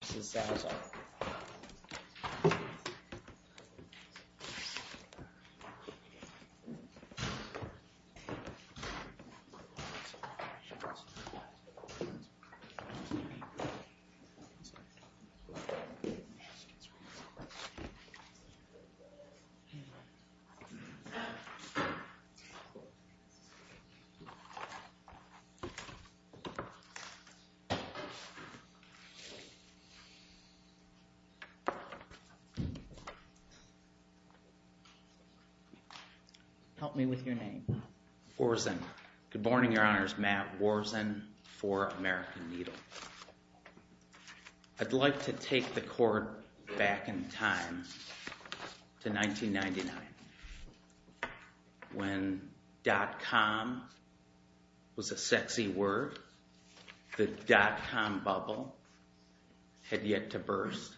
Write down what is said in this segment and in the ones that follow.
This is Zazzle. I'd like to take the court back in time to 1999 when dot-com was a sexy word, the dot-com bubble had yet to burst,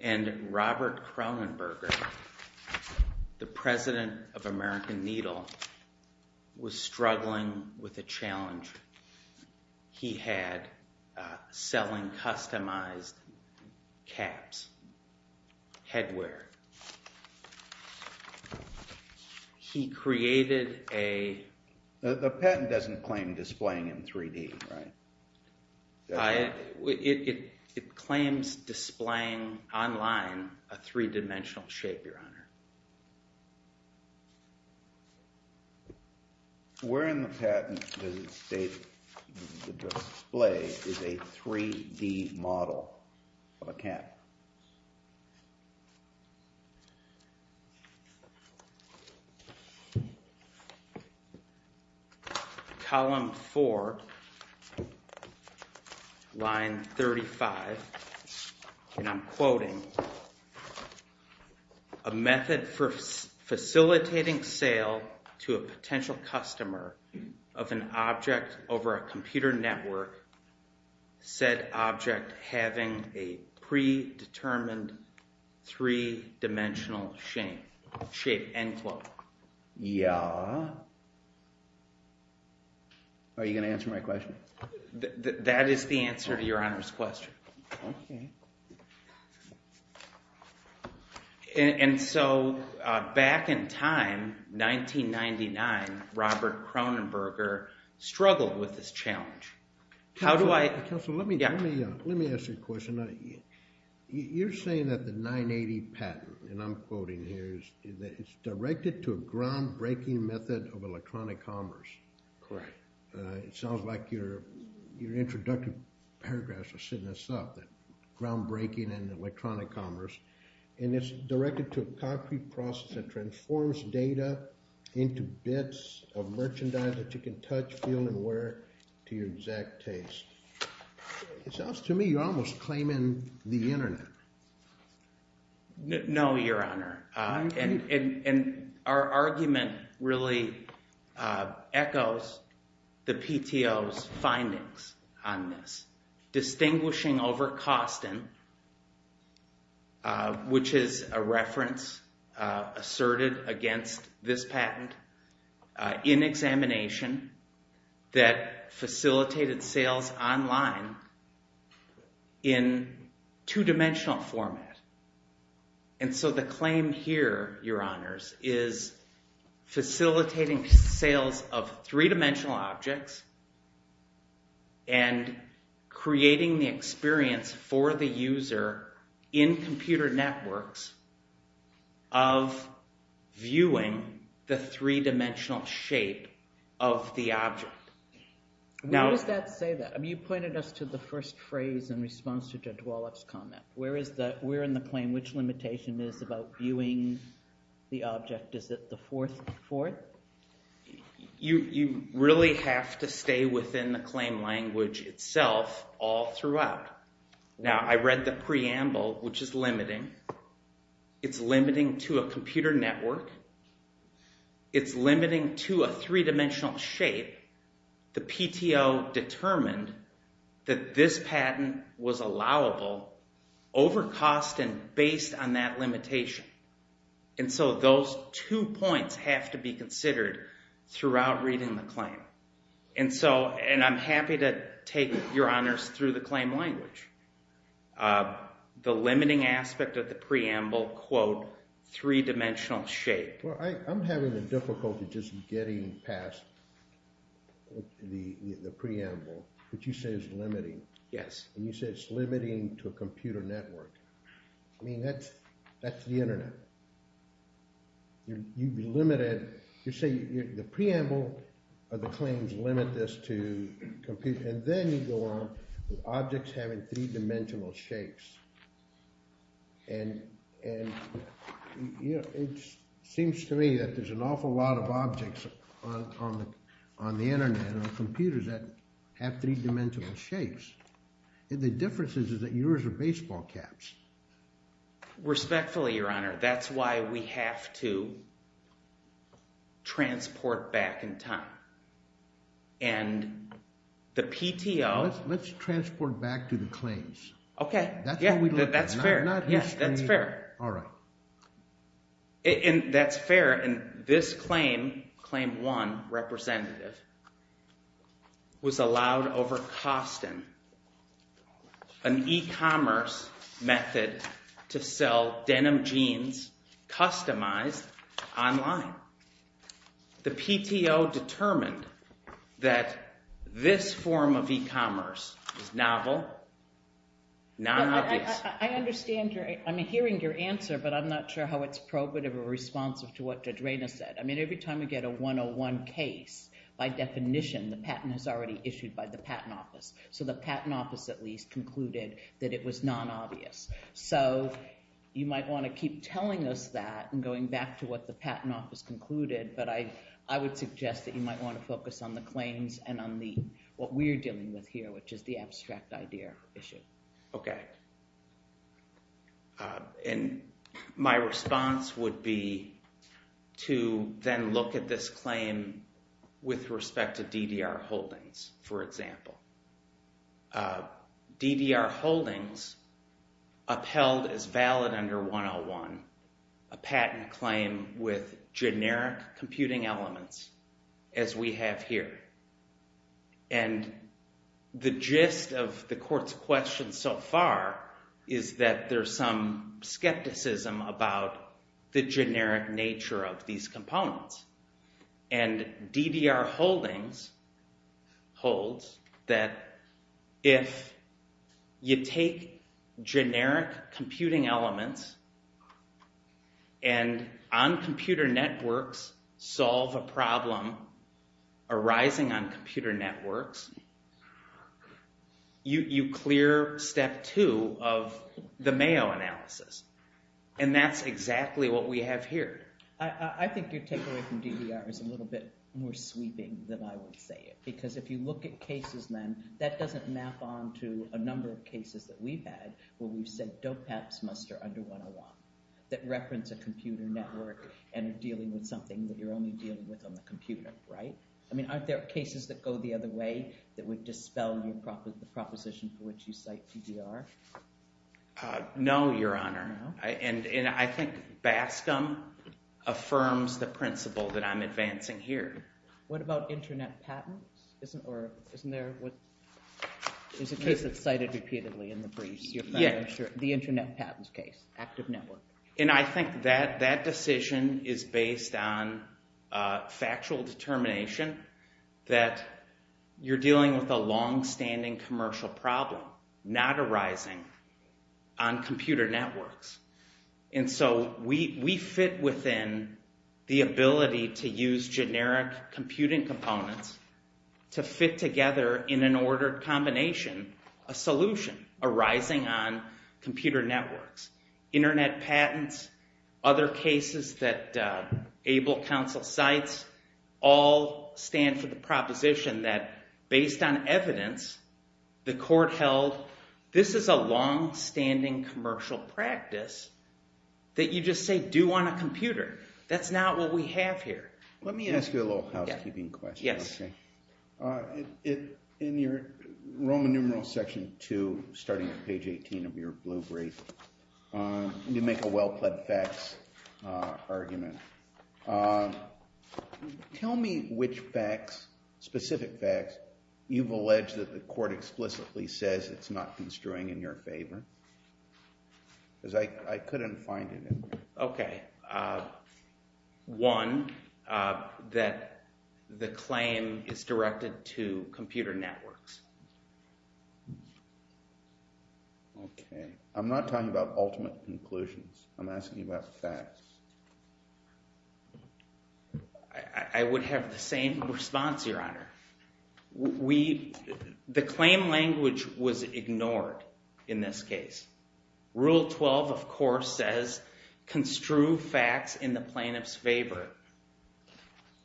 and Robert Kronenberger, the president of American Needle, was struggling with a challenge. He had selling customized caps, headwear. He created a— The patent doesn't claim displaying in 3D, right? It claims displaying online a three-dimensional shape, Your Honor. Where in the patent does it state the display is a 3D model of a cap? Column 4, line 35, and I'm quoting, a method for facilitating sale to a potential customer of an object over a computer network, said object having a predetermined three-dimensional shape, end quote. Yeah. Are you going to answer my question? That is the answer to Your Honor's question. Okay. And so back in time, 1999, Robert Kronenberger struggled with this challenge. How do I— Counselor, let me ask you a question. You're saying that the 980 patent, and I'm quoting here, is that it's directed to a groundbreaking method of electronic commerce. Correct. It sounds like your introductory paragraphs are setting us up, that groundbreaking in electronic commerce, and it's directed to a concrete process that transforms data into bits of merchandise that you can touch, feel, and wear to your exact taste. It sounds to me you're almost claiming the internet. No, Your Honor. And our argument really echoes the PTO's findings on this, distinguishing over Koston, which is a reference asserted against this patent, in examination that facilitated sales online in two-dimensional format. And so the claim here, Your Honors, is facilitating sales of three-dimensional objects and creating the experience for the user in computer networks of viewing the three-dimensional shape of the object. Now— Where does that say that? I mean, you pointed us to the first phrase in response to Jadwalek's comment. Where in the claim, which limitation is about viewing the object? Is it the fourth? You really have to stay within the claim language itself all throughout. Now I read the preamble, which is limiting. It's limiting to a computer network. It's limiting to a three-dimensional shape. The PTO determined that this patent was allowable over Koston based on that limitation. And so those two points have to be considered throughout reading the claim. And so, and I'm happy to take, Your Honors, through the claim language. The limiting aspect of the preamble, quote, three-dimensional shape. Well, I'm having a difficulty just getting past the preamble, which you say is limiting. Yes. And you say it's limiting to a computer network. I mean, that's the internet. You limit it. You say the preamble of the claims limit this to computer, and then you go on with objects having three-dimensional shapes. And it seems to me that there's an awful lot of objects on the internet and on computers that have three-dimensional shapes. The difference is that yours are baseball caps. Respectfully, Your Honor, that's why we have to transport back in time. And the PTO... Let's transport back to the claims. Okay. Yeah, that's fair. Yeah, that's fair. All right. And that's fair, and this claim, Claim 1, Representative, was allowed over Koston, an e-commerce method to sell denim jeans customized online. Now, the PTO determined that this form of e-commerce is novel, non-obvious. I understand. I'm hearing your answer, but I'm not sure how it's probative or responsive to what Judge Reyna said. I mean, every time we get a 101 case, by definition, the patent is already issued by the Patent Office. So the Patent Office, at least, concluded that it was non-obvious. So you might want to keep telling us that and going back to what the Patent Office concluded, but I would suggest that you might want to focus on the claims and on what we're dealing with here, which is the abstract idea issue. Okay. And my response would be to then look at this claim with respect to DDR Holdings, for example. DDR Holdings upheld as valid under 101 a patent claim with generic computing elements as we have here, and the gist of the Court's question so far is that there's some skepticism about the generic nature of these components, and DDR Holdings holds that if you take generic computing elements and on computer networks solve a problem arising on computer networks, you clear step two of the Mayo analysis, and that's exactly what we have here. I think your takeaway from DDR is a little bit more sweeping than I would say it, because if you look at cases then, that doesn't map on to a number of cases that we've had where we've said DOPEPS must are under 101, that reference a computer network and are dealing with something that you're only dealing with on the computer, right? I mean, aren't there cases that go the other way that would dispel the proposition for which you cite DDR? No, Your Honor, and I think Bascom affirms the principle that I'm advancing here. What about internet patents? Isn't there a case that's cited repeatedly in the briefs? The internet patents case, active network. And I think that that decision is based on factual determination that you're dealing with a longstanding commercial problem not arising on computer networks, and so we fit within the ability to use generic computing components to fit together in an ordered combination a solution arising on computer networks. Internet patents, other cases that able counsel cites, all stand for the proposition that based on evidence, the court held this is a longstanding commercial practice that you just say do on a computer. That's not what we have here. Let me ask you a little housekeeping question. Yes. In your Roman numeral section two, starting at page 18 of your blue brief, you make a well-plaid facts argument. Tell me which facts, specific facts, you've alleged that the court explicitly says it's not construing in your favor. Because I couldn't find it in there. Okay. One, that the claim is directed to computer networks. Okay. I'm not talking about ultimate conclusions. I'm asking you about facts. I would have the same response, Your Honor. The claim language was ignored in this case. Rule 12, of course, says construe facts in the plaintiff's favor.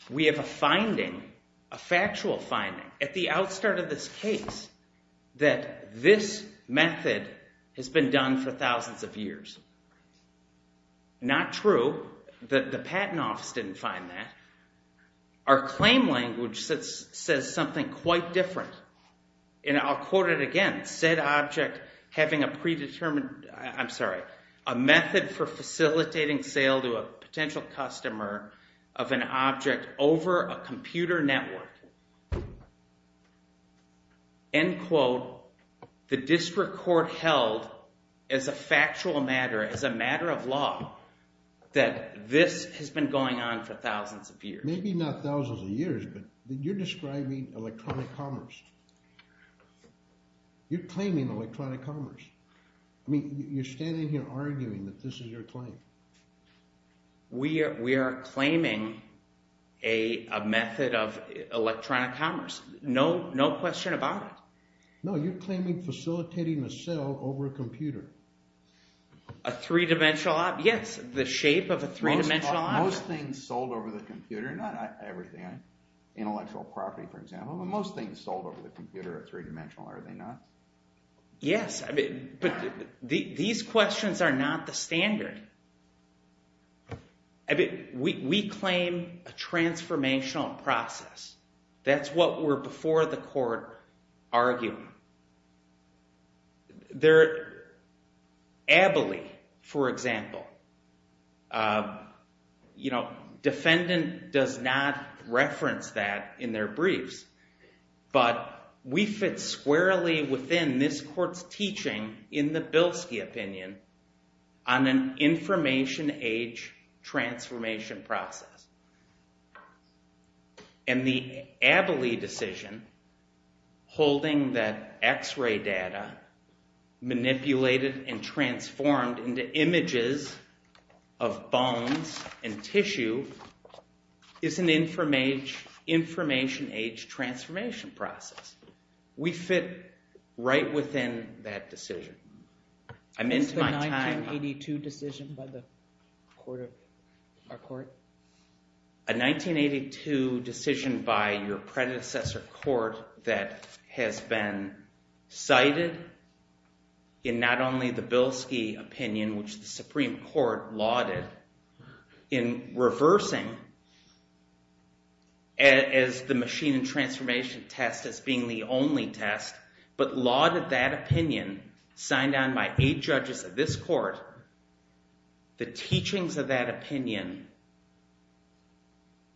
We have a finding, a factual finding, at the outstart of this case that this method has been done for thousands of years. Not true. The patent office didn't find that. Our claim language says something quite different. And I'll quote it again. Said object having a predetermined, I'm sorry, a method for facilitating sale to a potential customer of an object over a computer network. End quote. The district court held as a factual matter, as a matter of law, that this has been going on for thousands of years. Maybe not thousands of years, but you're describing electronic commerce. You're claiming electronic commerce. I mean, you're standing here arguing that this is your claim. We are claiming a method of electronic commerce. No question about it. No, you're claiming facilitating a sale over a computer. A three-dimensional object. Yes, the shape of a three-dimensional object. Most things sold over the computer, not everything, intellectual property, for example, but most things sold over the computer are three-dimensional, are they not? Yes, but these questions are not the standard. We claim a transformational process. That's what we're before the court arguing. Their ability, for example, defendant does not reference that in their briefs, but we fit squarely within this court's teaching in the Bilski opinion on an information age transformation process. And the Abilie decision holding that x-ray data manipulated and transformed into images of bones and tissue is an information age transformation process. We fit right within that decision. I'm into my time. A 1982 decision by our court? A 1982 decision by your predecessor court that has been cited in not only the Bilski opinion, which the Supreme Court lauded in reversing as the machine and transformation test as being the only test, but lauded that opinion, signed on by eight judges of this court, the teachings of that opinion,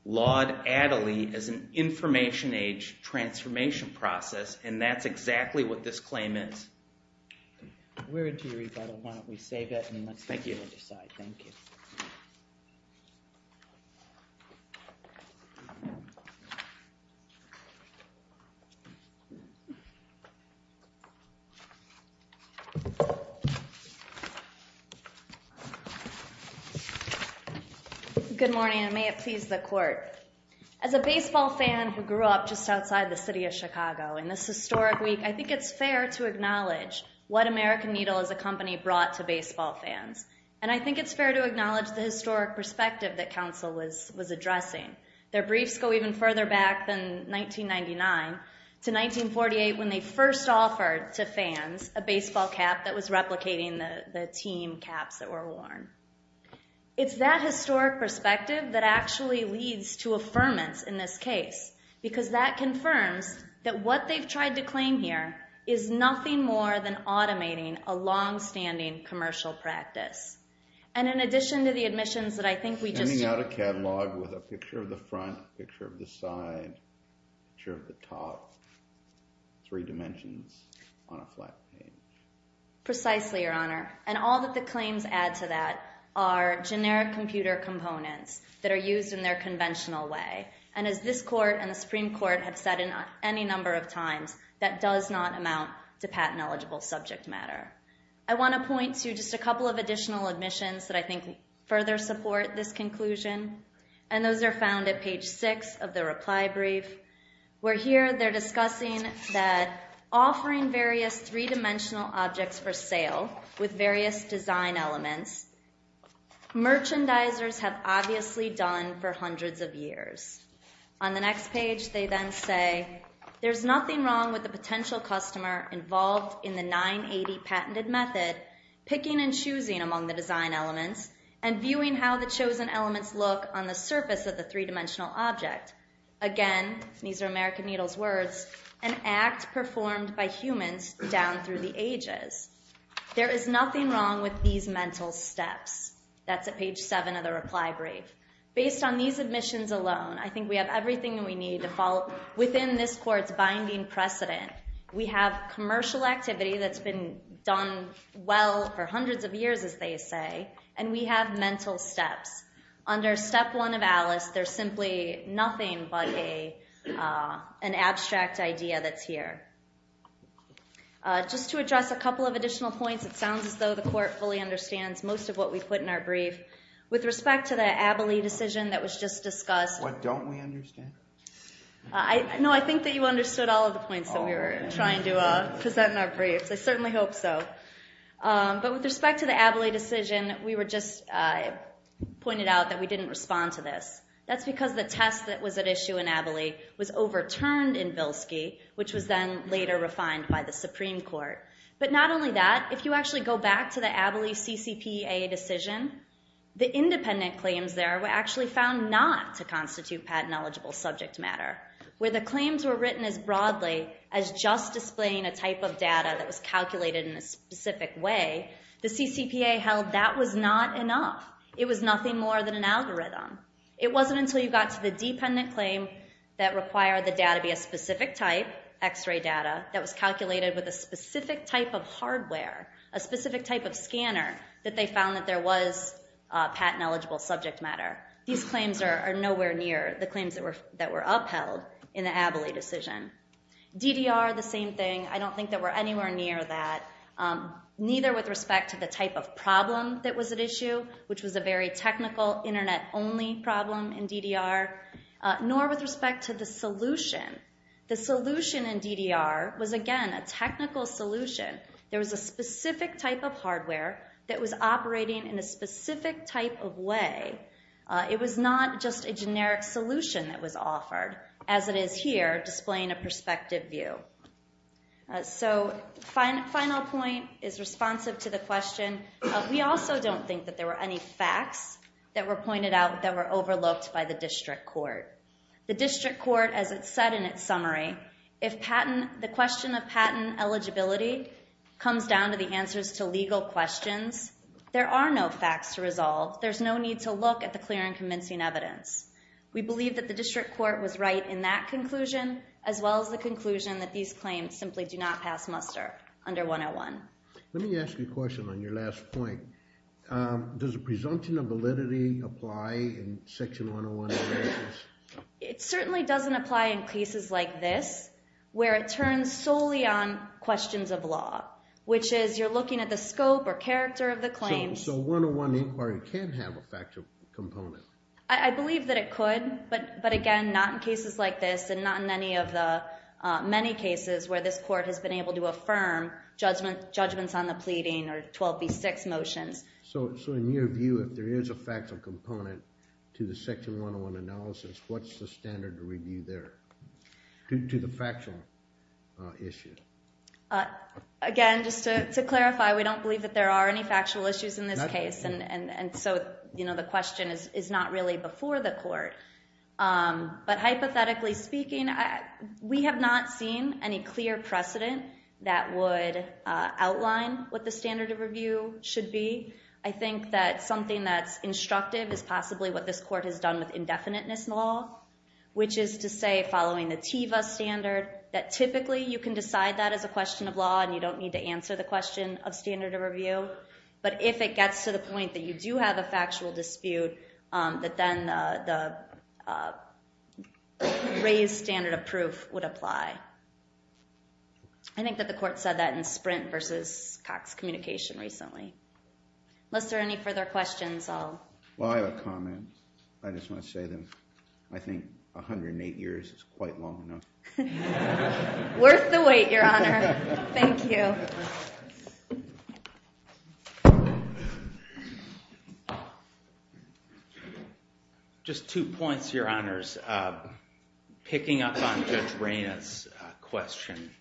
laud Adelie as an information age transformation process, and that's exactly what this claim is. We're into your rebuttal. Why don't we save that and let's move to the other side. Thank you. Good morning, and may it please the court. As a baseball fan who grew up just outside the city of Chicago in this historic week, I think it's fair to acknowledge what American Needle as a company brought to baseball fans. And I think it's fair to acknowledge the historic perspective that counsel was addressing. Their briefs go even further back than 1999 to 1948 when they first offered to fans a baseball cap that was replicating the team caps that were worn. It's that historic perspective that actually leads to affirmance in this case, because that confirms that what they've tried to claim here is nothing more than automating a longstanding commercial practice. And in addition to the admissions that I think we just did. Sending out a catalog with a picture of the front, picture of the side, picture of the top, three dimensions on a flat page. Precisely, Your Honor. And all that the claims add to that are generic computer components that are used in their conventional way. And as this court and the Supreme Court have said any number of times, that does not amount to patent eligible subject matter. I want to point to just a couple of additional admissions that I think further support this conclusion. And those are found at page six of the reply brief. Where here they're discussing that offering various three dimensional objects for sale with various design elements, merchandisers have obviously done for hundreds of years. On the next page they then say, there's nothing wrong with the potential customer involved in the 980 patented method, picking and choosing among the design elements, and viewing how the chosen elements look on the surface of the three dimensional object. Again, these are American Needle's words, an act performed by humans down through the ages. There is nothing wrong with these mental steps. That's at page seven of the reply brief. Based on these admissions alone, I think we have everything we need to fall within this court's binding precedent. We have commercial activity that's been done well for hundreds of years, as they say. And we have mental steps. Under step one of Alice, there's simply nothing but an abstract idea that's here. Just to address a couple of additional points, it sounds as though the court fully understands most of what we put in our brief. With respect to the Abilie decision that was just discussed. What don't we understand? No, I think that you understood all of the points that we were trying to present in our briefs. I certainly hope so. But with respect to the Abilie decision, we were just pointed out that we didn't respond to this. That's because the test that was at issue in Abilie was overturned in Bilski, which was then later refined by the Supreme Court. But not only that, if you actually go back to the Abilie CCPA decision, the independent where the claims were written as broadly as just displaying a type of data that was calculated in a specific way, the CCPA held that was not enough. It was nothing more than an algorithm. It wasn't until you got to the dependent claim that required the data be a specific type, x-ray data, that was calculated with a specific type of hardware, a specific type of scanner that they found that there was patent-eligible subject matter. These claims are nowhere near the claims that were upheld in the Abilie decision. DDR, the same thing. I don't think that we're anywhere near that, neither with respect to the type of problem that was at issue, which was a very technical, Internet-only problem in DDR, nor with respect to the solution. The solution in DDR was, again, a technical solution. There was a specific type of hardware that was operating in a specific type of way. It was not just a generic solution that was offered, as it is here, displaying a perspective view. So final point is responsive to the question. We also don't think that there were any facts that were pointed out that were overlooked by the district court. The district court, as it said in its summary, if the question of patent eligibility comes down to the answers to legal questions, there are no facts to resolve. There's no need to look at the clear and convincing evidence. We believe that the district court was right in that conclusion, as well as the conclusion that these claims simply do not pass muster under 101. Let me ask you a question on your last point. Does a presumption of validity apply in Section 101? It certainly doesn't apply in cases like this, where it turns solely on questions of law, which is, you're looking at the scope or character of the claims. So 101 Inquiry can have a factual component? I believe that it could, but again, not in cases like this, and not in many cases where this court has been able to affirm judgments on the pleading or 12B6 motions. So in your view, if there is a factual component to the Section 101 analysis, what's the standard to review there, to the factual issue? Again, just to clarify, we don't believe that there are any factual issues in this case, and so the question is not really before the court. But hypothetically speaking, we have not seen any clear precedent that would outline what the standard of review should be. I think that something that's instructive is possibly what this court has done with indefiniteness law, which is to say, following the TEVA standard, that typically you can decide that as a question of law, and you don't need to answer the question of standard of review. But if it gets to the point that you do have a factual dispute, that then the raised standard of proof would apply. I think that the court said that in Sprint v. Cox Communication recently. Unless there are any further questions, I'll... Well, I have a comment. I just want to say that I think 108 years is quite long enough. Worth the wait, Your Honor. Thank you. Just two points, Your Honors. Picking up on Judge Reyna's question,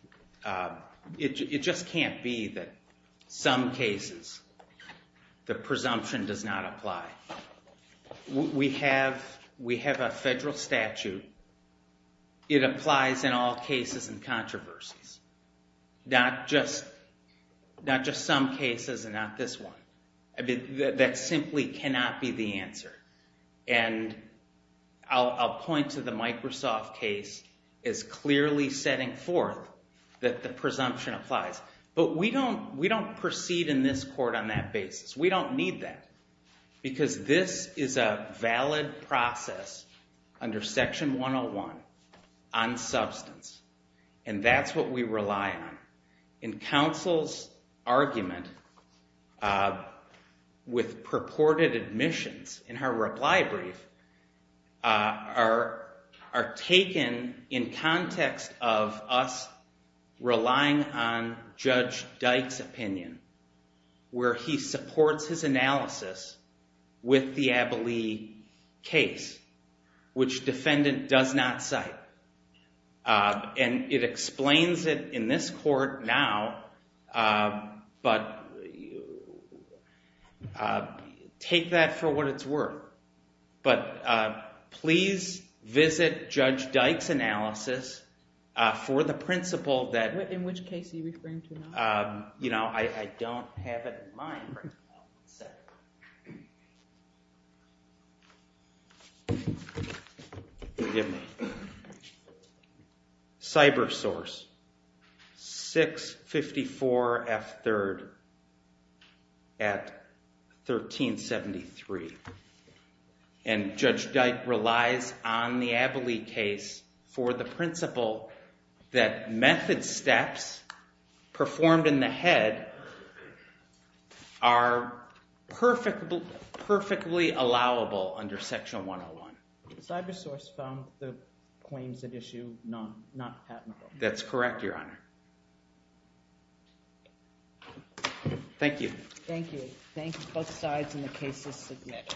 it just can't be that some cases the presumption does not apply. We have a federal statute. It applies in all cases and controversies. Not just some cases and not this one. That simply cannot be the answer. I'll point to the Microsoft case as clearly setting forth that the presumption applies. But we don't proceed in this court on that basis. We don't need that. Because this is a valid process under Section 101 on substance. And that's what we rely on. And counsel's argument with purported admissions in her reply brief are taken in context of us relying on Judge Dyke's opinion where he supports his analysis with the Abilee case, which defendant does not cite. And it explains it in this court now. But take that for what it's worth. But please visit Judge Dyke's analysis for the principle that... In which case are you referring to now? I don't have it in mind right now. Forgive me. CyberSource, 654 F3rd at 1373. And Judge Dyke relies on the Abilee case for the principle that method steps performed in the head are perfectly allowable under Section 101. CyberSource found the claims at issue not patentable. That's correct, Your Honor. Thank you. Thank you. Both sides in the case are submitted.